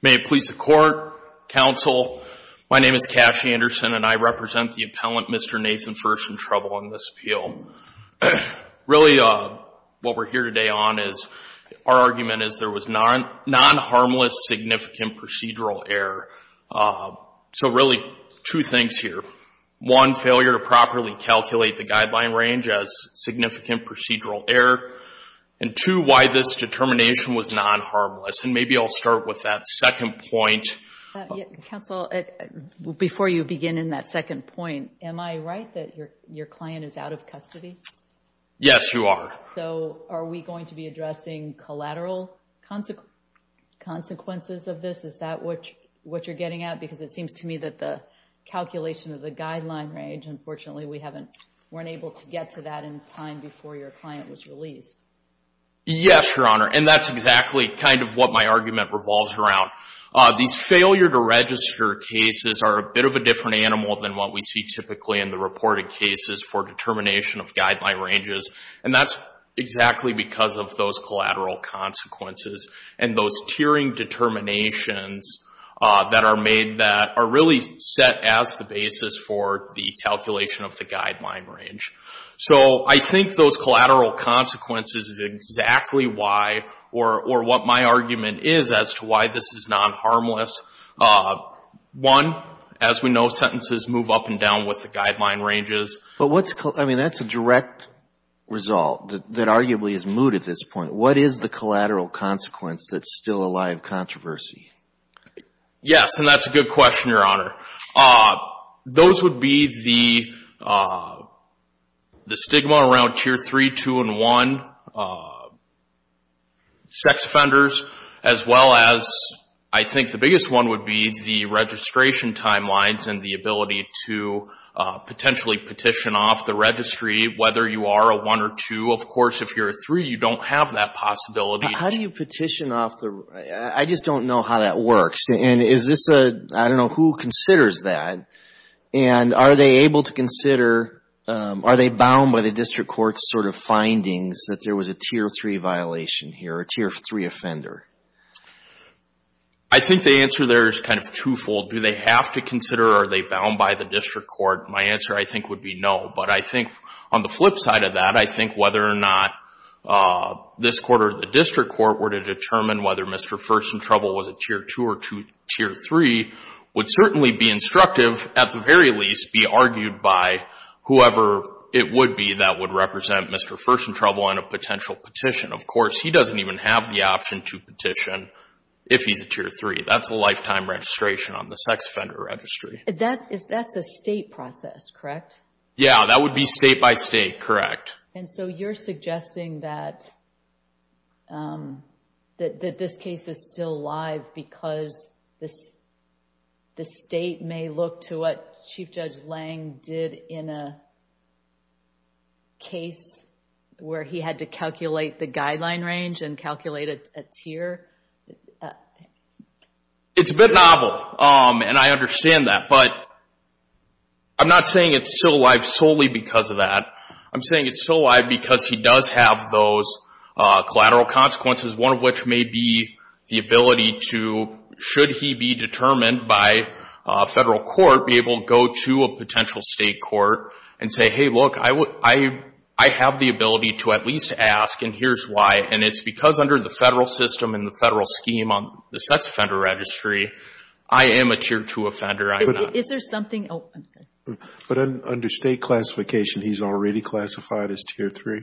May it please the Court, Counsel, my name is Cash Anderson and I represent the appellant Mr. Nathan First in Trouble on this appeal. Really what we're here today on is, our argument is there was non-harmless significant procedural error. So, really two things here, one, failure to properly calculate the guideline range as significant procedural error, and two, why this determination was non-harmless, and maybe I'll start with that second point. Counsel, before you begin in that second point, am I right that your client is out of custody? Yes, you are. So are we going to be addressing collateral consequences of this? Is that what you're getting at? Because it seems to me that the calculation of the guideline range, unfortunately we weren't able to get to that in time before your client was released. Yes, Your Honor, and that's exactly kind of what my argument revolves around. These failure to register cases are a bit of a different animal than what we see typically in the reported cases for determination of guideline ranges, and that's exactly because of those collateral consequences and those tiering determinations that are made that are really set as the basis for the calculation of the guideline range. So I think those collateral consequences is exactly why or what my argument is as to why this is non-harmless. One, as we know, sentences move up and down with the guideline ranges. But what's, I mean, that's a direct result that arguably is moot at this point. What is the collateral consequence that's still a live controversy? Yes, and that's a good question, Your Honor. Those would be the stigma around tier 3, 2, and 1 sex offenders, as well as I think the biggest one would be the registration timelines and the ability to potentially petition off the registry, whether you are a 1 or 2. Of course, if you're a 3, you don't have that possibility. How do you petition off the, I just don't know how that works, and is this a, I don't know who considers that, and are they able to consider, are they bound by the district court's sort of findings that there was a tier 3 violation here, a tier 3 offender? I think the answer there is kind of twofold. Do they have to consider, or are they bound by the district court? My answer, I think, would be no. But I think on the flip side of that, I think whether or not this court or the district court were to determine whether Mr. First in Trouble was a tier 2 or tier 3 would certainly be instructive, at the very least, be argued by whoever it would be that would represent Mr. First in Trouble on a potential petition. Of course, he doesn't even have the option to petition if he's a tier 3. That's a lifetime registration on the sex offender registry. That's a state process, correct? Yeah, that would be state by state, correct. And so you're suggesting that this case is still alive because the state may look to what Chief Judge Lange did in a case where he had to calculate the guideline range and calculate a tier? It's a bit novel, and I understand that, but I'm not saying it's still alive solely because of that. I'm saying it's still alive because he does have those collateral consequences, one of may be the ability to, should he be determined by a federal court, be able to go to a potential state court and say, hey, look, I have the ability to at least ask, and here's why. And it's because under the federal system and the federal scheme on the sex offender registry, I am a tier 2 offender. Is there something... Oh, I'm sorry. But under state classification, he's already classified as tier 3?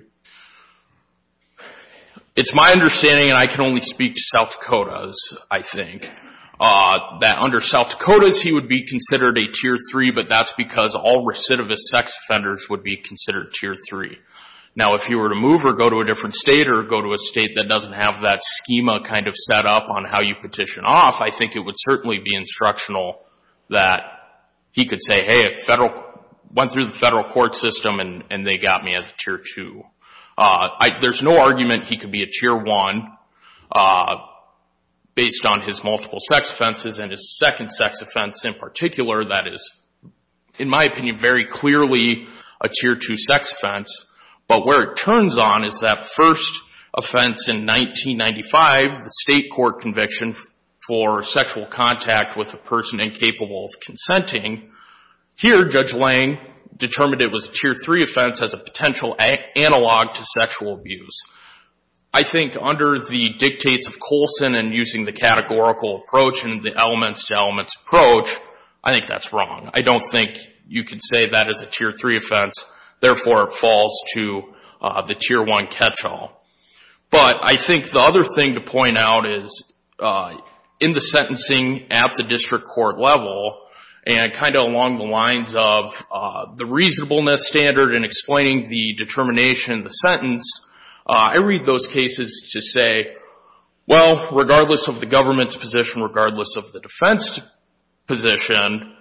It's my understanding, and I can only speak to South Dakotas, I think, that under South Dakotas, he would be considered a tier 3, but that's because all recidivist sex offenders would be considered tier 3. Now, if you were to move or go to a different state or go to a state that doesn't have that schema kind of set up on how you petition off, I think it would certainly be instructional that he could say, hey, went through the federal court system and they got me as a tier 2. There's no argument he could be a tier 1 based on his multiple sex offenses and his second sex offense in particular that is, in my opinion, very clearly a tier 2 sex offense. But where it turns on is that first offense in 1995, the state court conviction for sexual contact with a person incapable of consenting, here Judge Lang determined it was a tier 3 offense as a potential analog to sexual abuse. I think under the dictates of Colson and using the categorical approach and the elements to elements approach, I think that's wrong. I don't think you could say that as a tier 3 offense, therefore it falls to the tier 1 catch-all. But I think the other thing to point out is in the sentencing at the district court level and kind of along the lines of the reasonableness standard in explaining the determination of the sentence, I read those cases to say, well, regardless of the government's position, regardless of the defense position,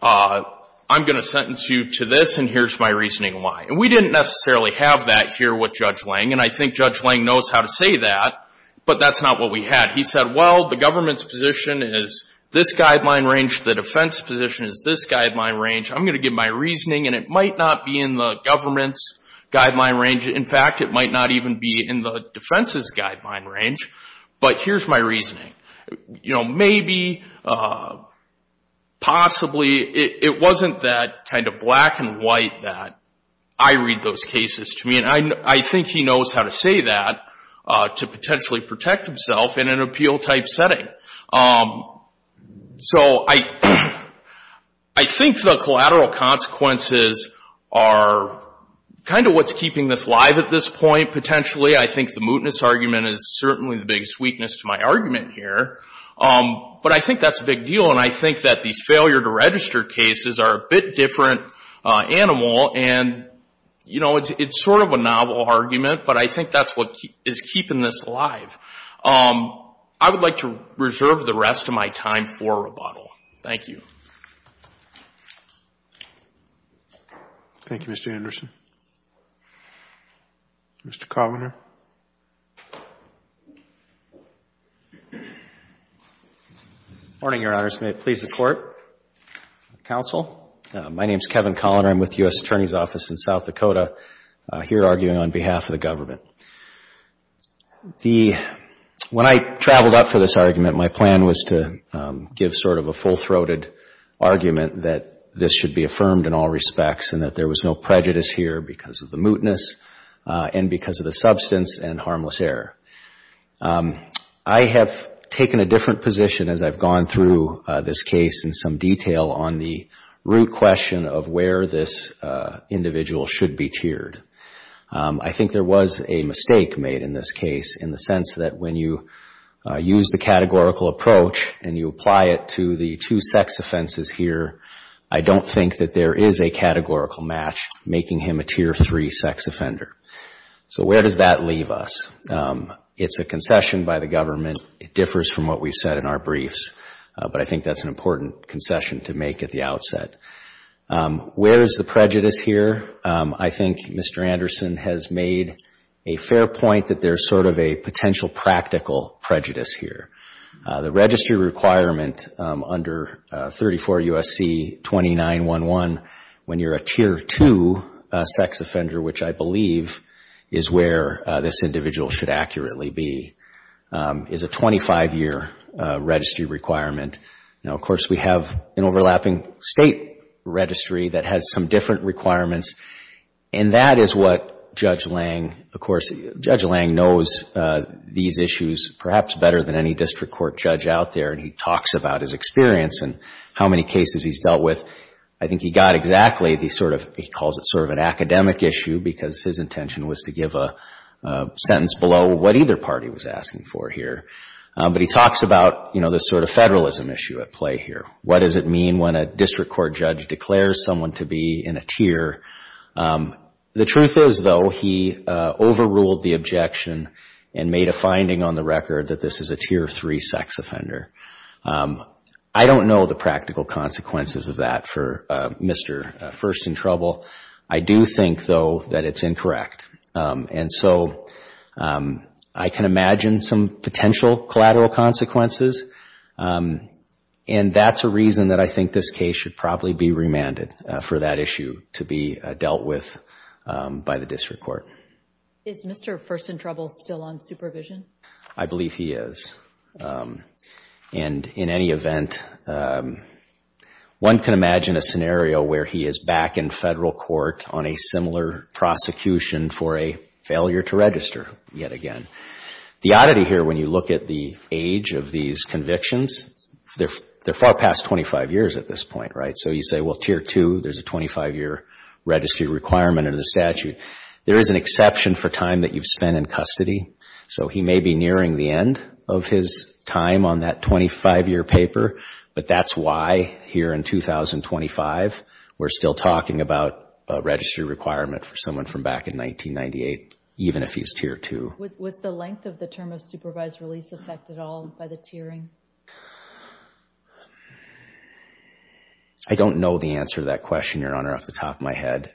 I'm going to sentence you to this and here's my reasoning why. We didn't necessarily have that here with Judge Lang and I think Judge Lang knows how to say that, but that's not what we had. He said, well, the government's position is this guideline range, the defense position is this guideline range, I'm going to give my reasoning and it might not be in the government's guideline range. In fact, it might not even be in the defense's guideline range, but here's my reasoning. Maybe, possibly, it wasn't that kind of black and white that I read those cases to me and I think he knows how to say that to potentially protect himself in an appeal type setting. I think the collateral consequences are kind of what's keeping this live at this point potentially. I think the mootness argument is certainly the biggest weakness to my argument here, but I think that's a big deal and I think that these failure to register cases are a bit different animal and, you know, it's sort of a novel argument, but I think that's what is keeping this live. I would like to reserve the rest of my time for rebuttal. Thank you. Thank you, Mr. Anderson. Mr. Kovner. Good morning, Your Honors. May it please the Court, counsel. My name is Kevin Kovner. I'm with the U.S. Attorney's Office in South Dakota here arguing on behalf of the government. When I traveled up for this argument, my plan was to give sort of a full-throated argument that this should be affirmed in all respects and that there was no prejudice here because of the mootness and because of the substance and harmless error. I have taken a different position as I've gone through this case in some detail on the root question of where this individual should be tiered. I think there was a mistake made in this case in the sense that when you use the categorical approach and you apply it to the two sex offenses here, I don't think that there is a categorical match making him a tier three sex offender. Where does that leave us? It's a concession by the government. It differs from what we've said in our briefs, but I think that's an important concession to make at the outset. Where is the prejudice here? I think Mr. Anderson has made a fair point that there's sort of a potential practical prejudice here. The registry requirement under 34 U.S.C. 2911 when you're a tier two sex offender, which I believe is where this individual should accurately be, is a 25-year registry requirement. Now, of course, we have an overlapping state registry that has some different requirements and that is what Judge Lange, of course, Judge Lange knows these issues perhaps better than any district court judge out there and he talks about his experience and how many cases he's dealt with. I think he got exactly the sort of, he calls it sort of an academic issue because his intention was to give a sentence below what either party was asking for here. But he talks about, you know, this sort of federalism issue at play here. What does it mean when a district court judge declares someone to be in a tier? The truth is, though, he overruled the objection and made a finding on the record that this is a tier three sex offender. I don't know the practical consequences of that for Mr. First in Trouble. I do think, though, that it's incorrect. And so I can imagine some potential collateral consequences and that's a reason that I think this case should probably be remanded for that issue to be dealt with by the district court. Is Mr. First in Trouble still on supervision? I believe he is. And in any event, one can imagine a scenario where he is back in federal court on a similar prosecution for a failure to register yet again. The oddity here when you look at the age of these convictions, they're far past 25 years at this point, right? So you say, well, tier two, there's a 25-year registry requirement under the statute. There is an exception for time that you've spent in custody. So he may be nearing the end of his time on that 25-year paper. But that's why here in 2025 we're still talking about a registry requirement for someone from back in 1998, even if he's tier two. Was the length of the term of supervised release affected at all by the tiering? I don't know the answer to that question, Your Honor, off the top of my head.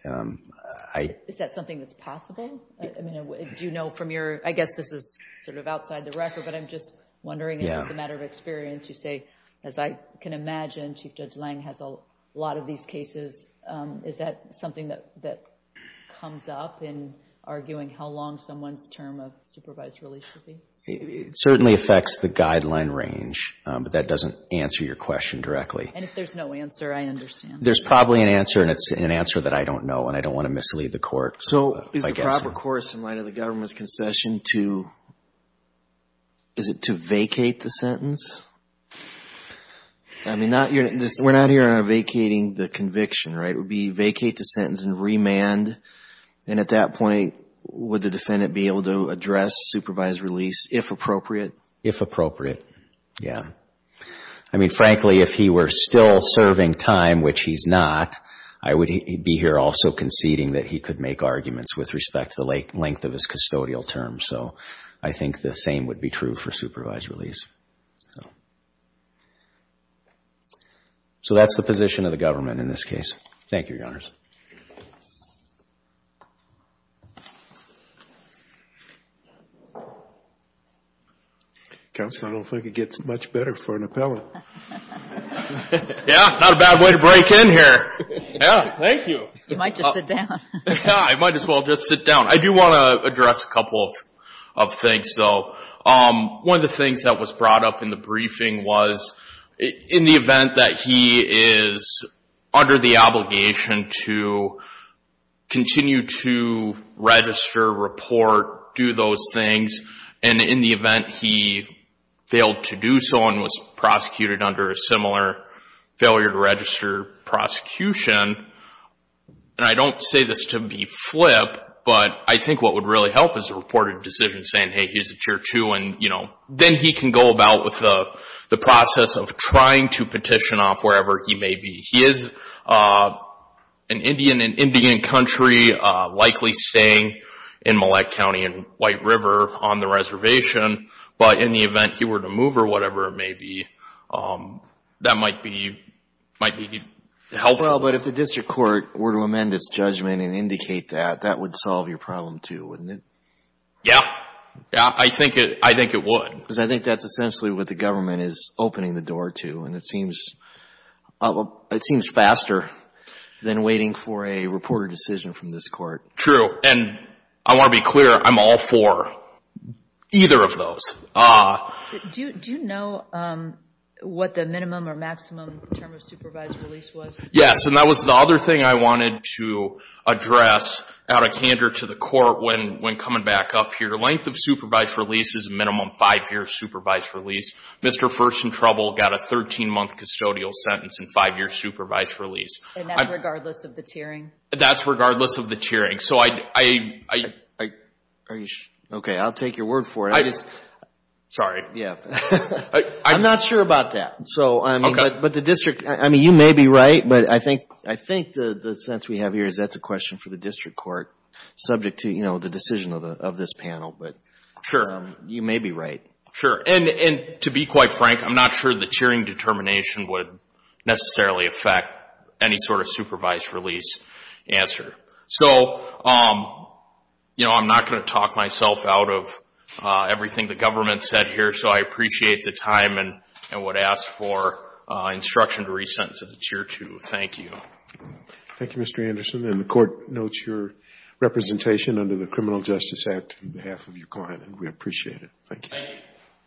Is that something that's possible? I guess this is sort of outside the record, but I'm just wondering, as a matter of experience, you say, as I can imagine, Chief Judge Lange has a lot of these cases. Is that something that comes up in arguing how long someone's term of supervised release should be? It certainly affects the guideline range, but that doesn't answer your question directly. And if there's no answer, I understand. There's probably an answer, and it's an answer that I don't know, and I don't want to mislead the court. So is the proper course in light of the government's concession to, is it to vacate the sentence? I mean, we're not here on vacating the conviction, right? It would be vacate the sentence and remand, and at that point, would the defendant be able to address supervised release if appropriate? If appropriate, yeah. I mean, frankly, if he were still serving time, which he's not, I would be here also conceding that he could make arguments with respect to the length of his custodial term. So I think the same would be true for supervised release. So that's the position of the government in this case. Thank you, Your Honors. Counsel, I don't think it gets much better for an appellate. Yeah, not a bad way to break in here. Yeah, thank you. You might just sit down. Yeah, I might as well just sit down. I do want to address a couple of things, though. One of the things that was brought up in the briefing was in the event that he is under the obligation to continue to register, report, do those things, and in the event he failed to do so and was prosecuted under a similar failure to register prosecution, and I don't say this to be flip, but I think what would really help is a reported decision saying, hey, he's a Tier 2, and then he can go about with the process of trying to petition off wherever he may be. He is an Indian in Indian country, likely staying in Millette County and White River on the reservation, but in the event he were to move or whatever it may be, that might be helpful. Well, but if the district court were to amend its judgment and indicate that, that would solve your problem, too, wouldn't it? Yeah. Yeah, I think it would. Because I think that's essentially what the government is opening the door to, and it seems faster than waiting for a reported decision from this court. True. And I want to be clear, I'm all for either of those. Do you know what the minimum or maximum term of supervised release was? Yes, and that was the other thing I wanted to address out of candor to the court when coming back up here. The length of supervised release is minimum five-year supervised release. Mr. First in Trouble got a 13-month custodial sentence and five-year supervised release. And that's regardless of the tiering? That's regardless of the tiering. Okay, I'll take your word for it. Sorry. Yeah. I'm not sure about that. So, I mean, but the district, I mean, you may be right, but I think the sense we have here is that's a question for the district court subject to, you know, the decision of this panel. But you may be right. Sure. And to be quite frank, I'm not sure the tiering determination would necessarily affect any sort of supervised release answer. So, you know, I'm not going to talk myself out of everything the government said here, so I appreciate the time and would ask for instruction to resentence as a tier two. Thank you. Thank you, Mr. Anderson. And the court notes your representation under the Criminal Justice Act on behalf of your client, and we appreciate it. Thank you. Thank you.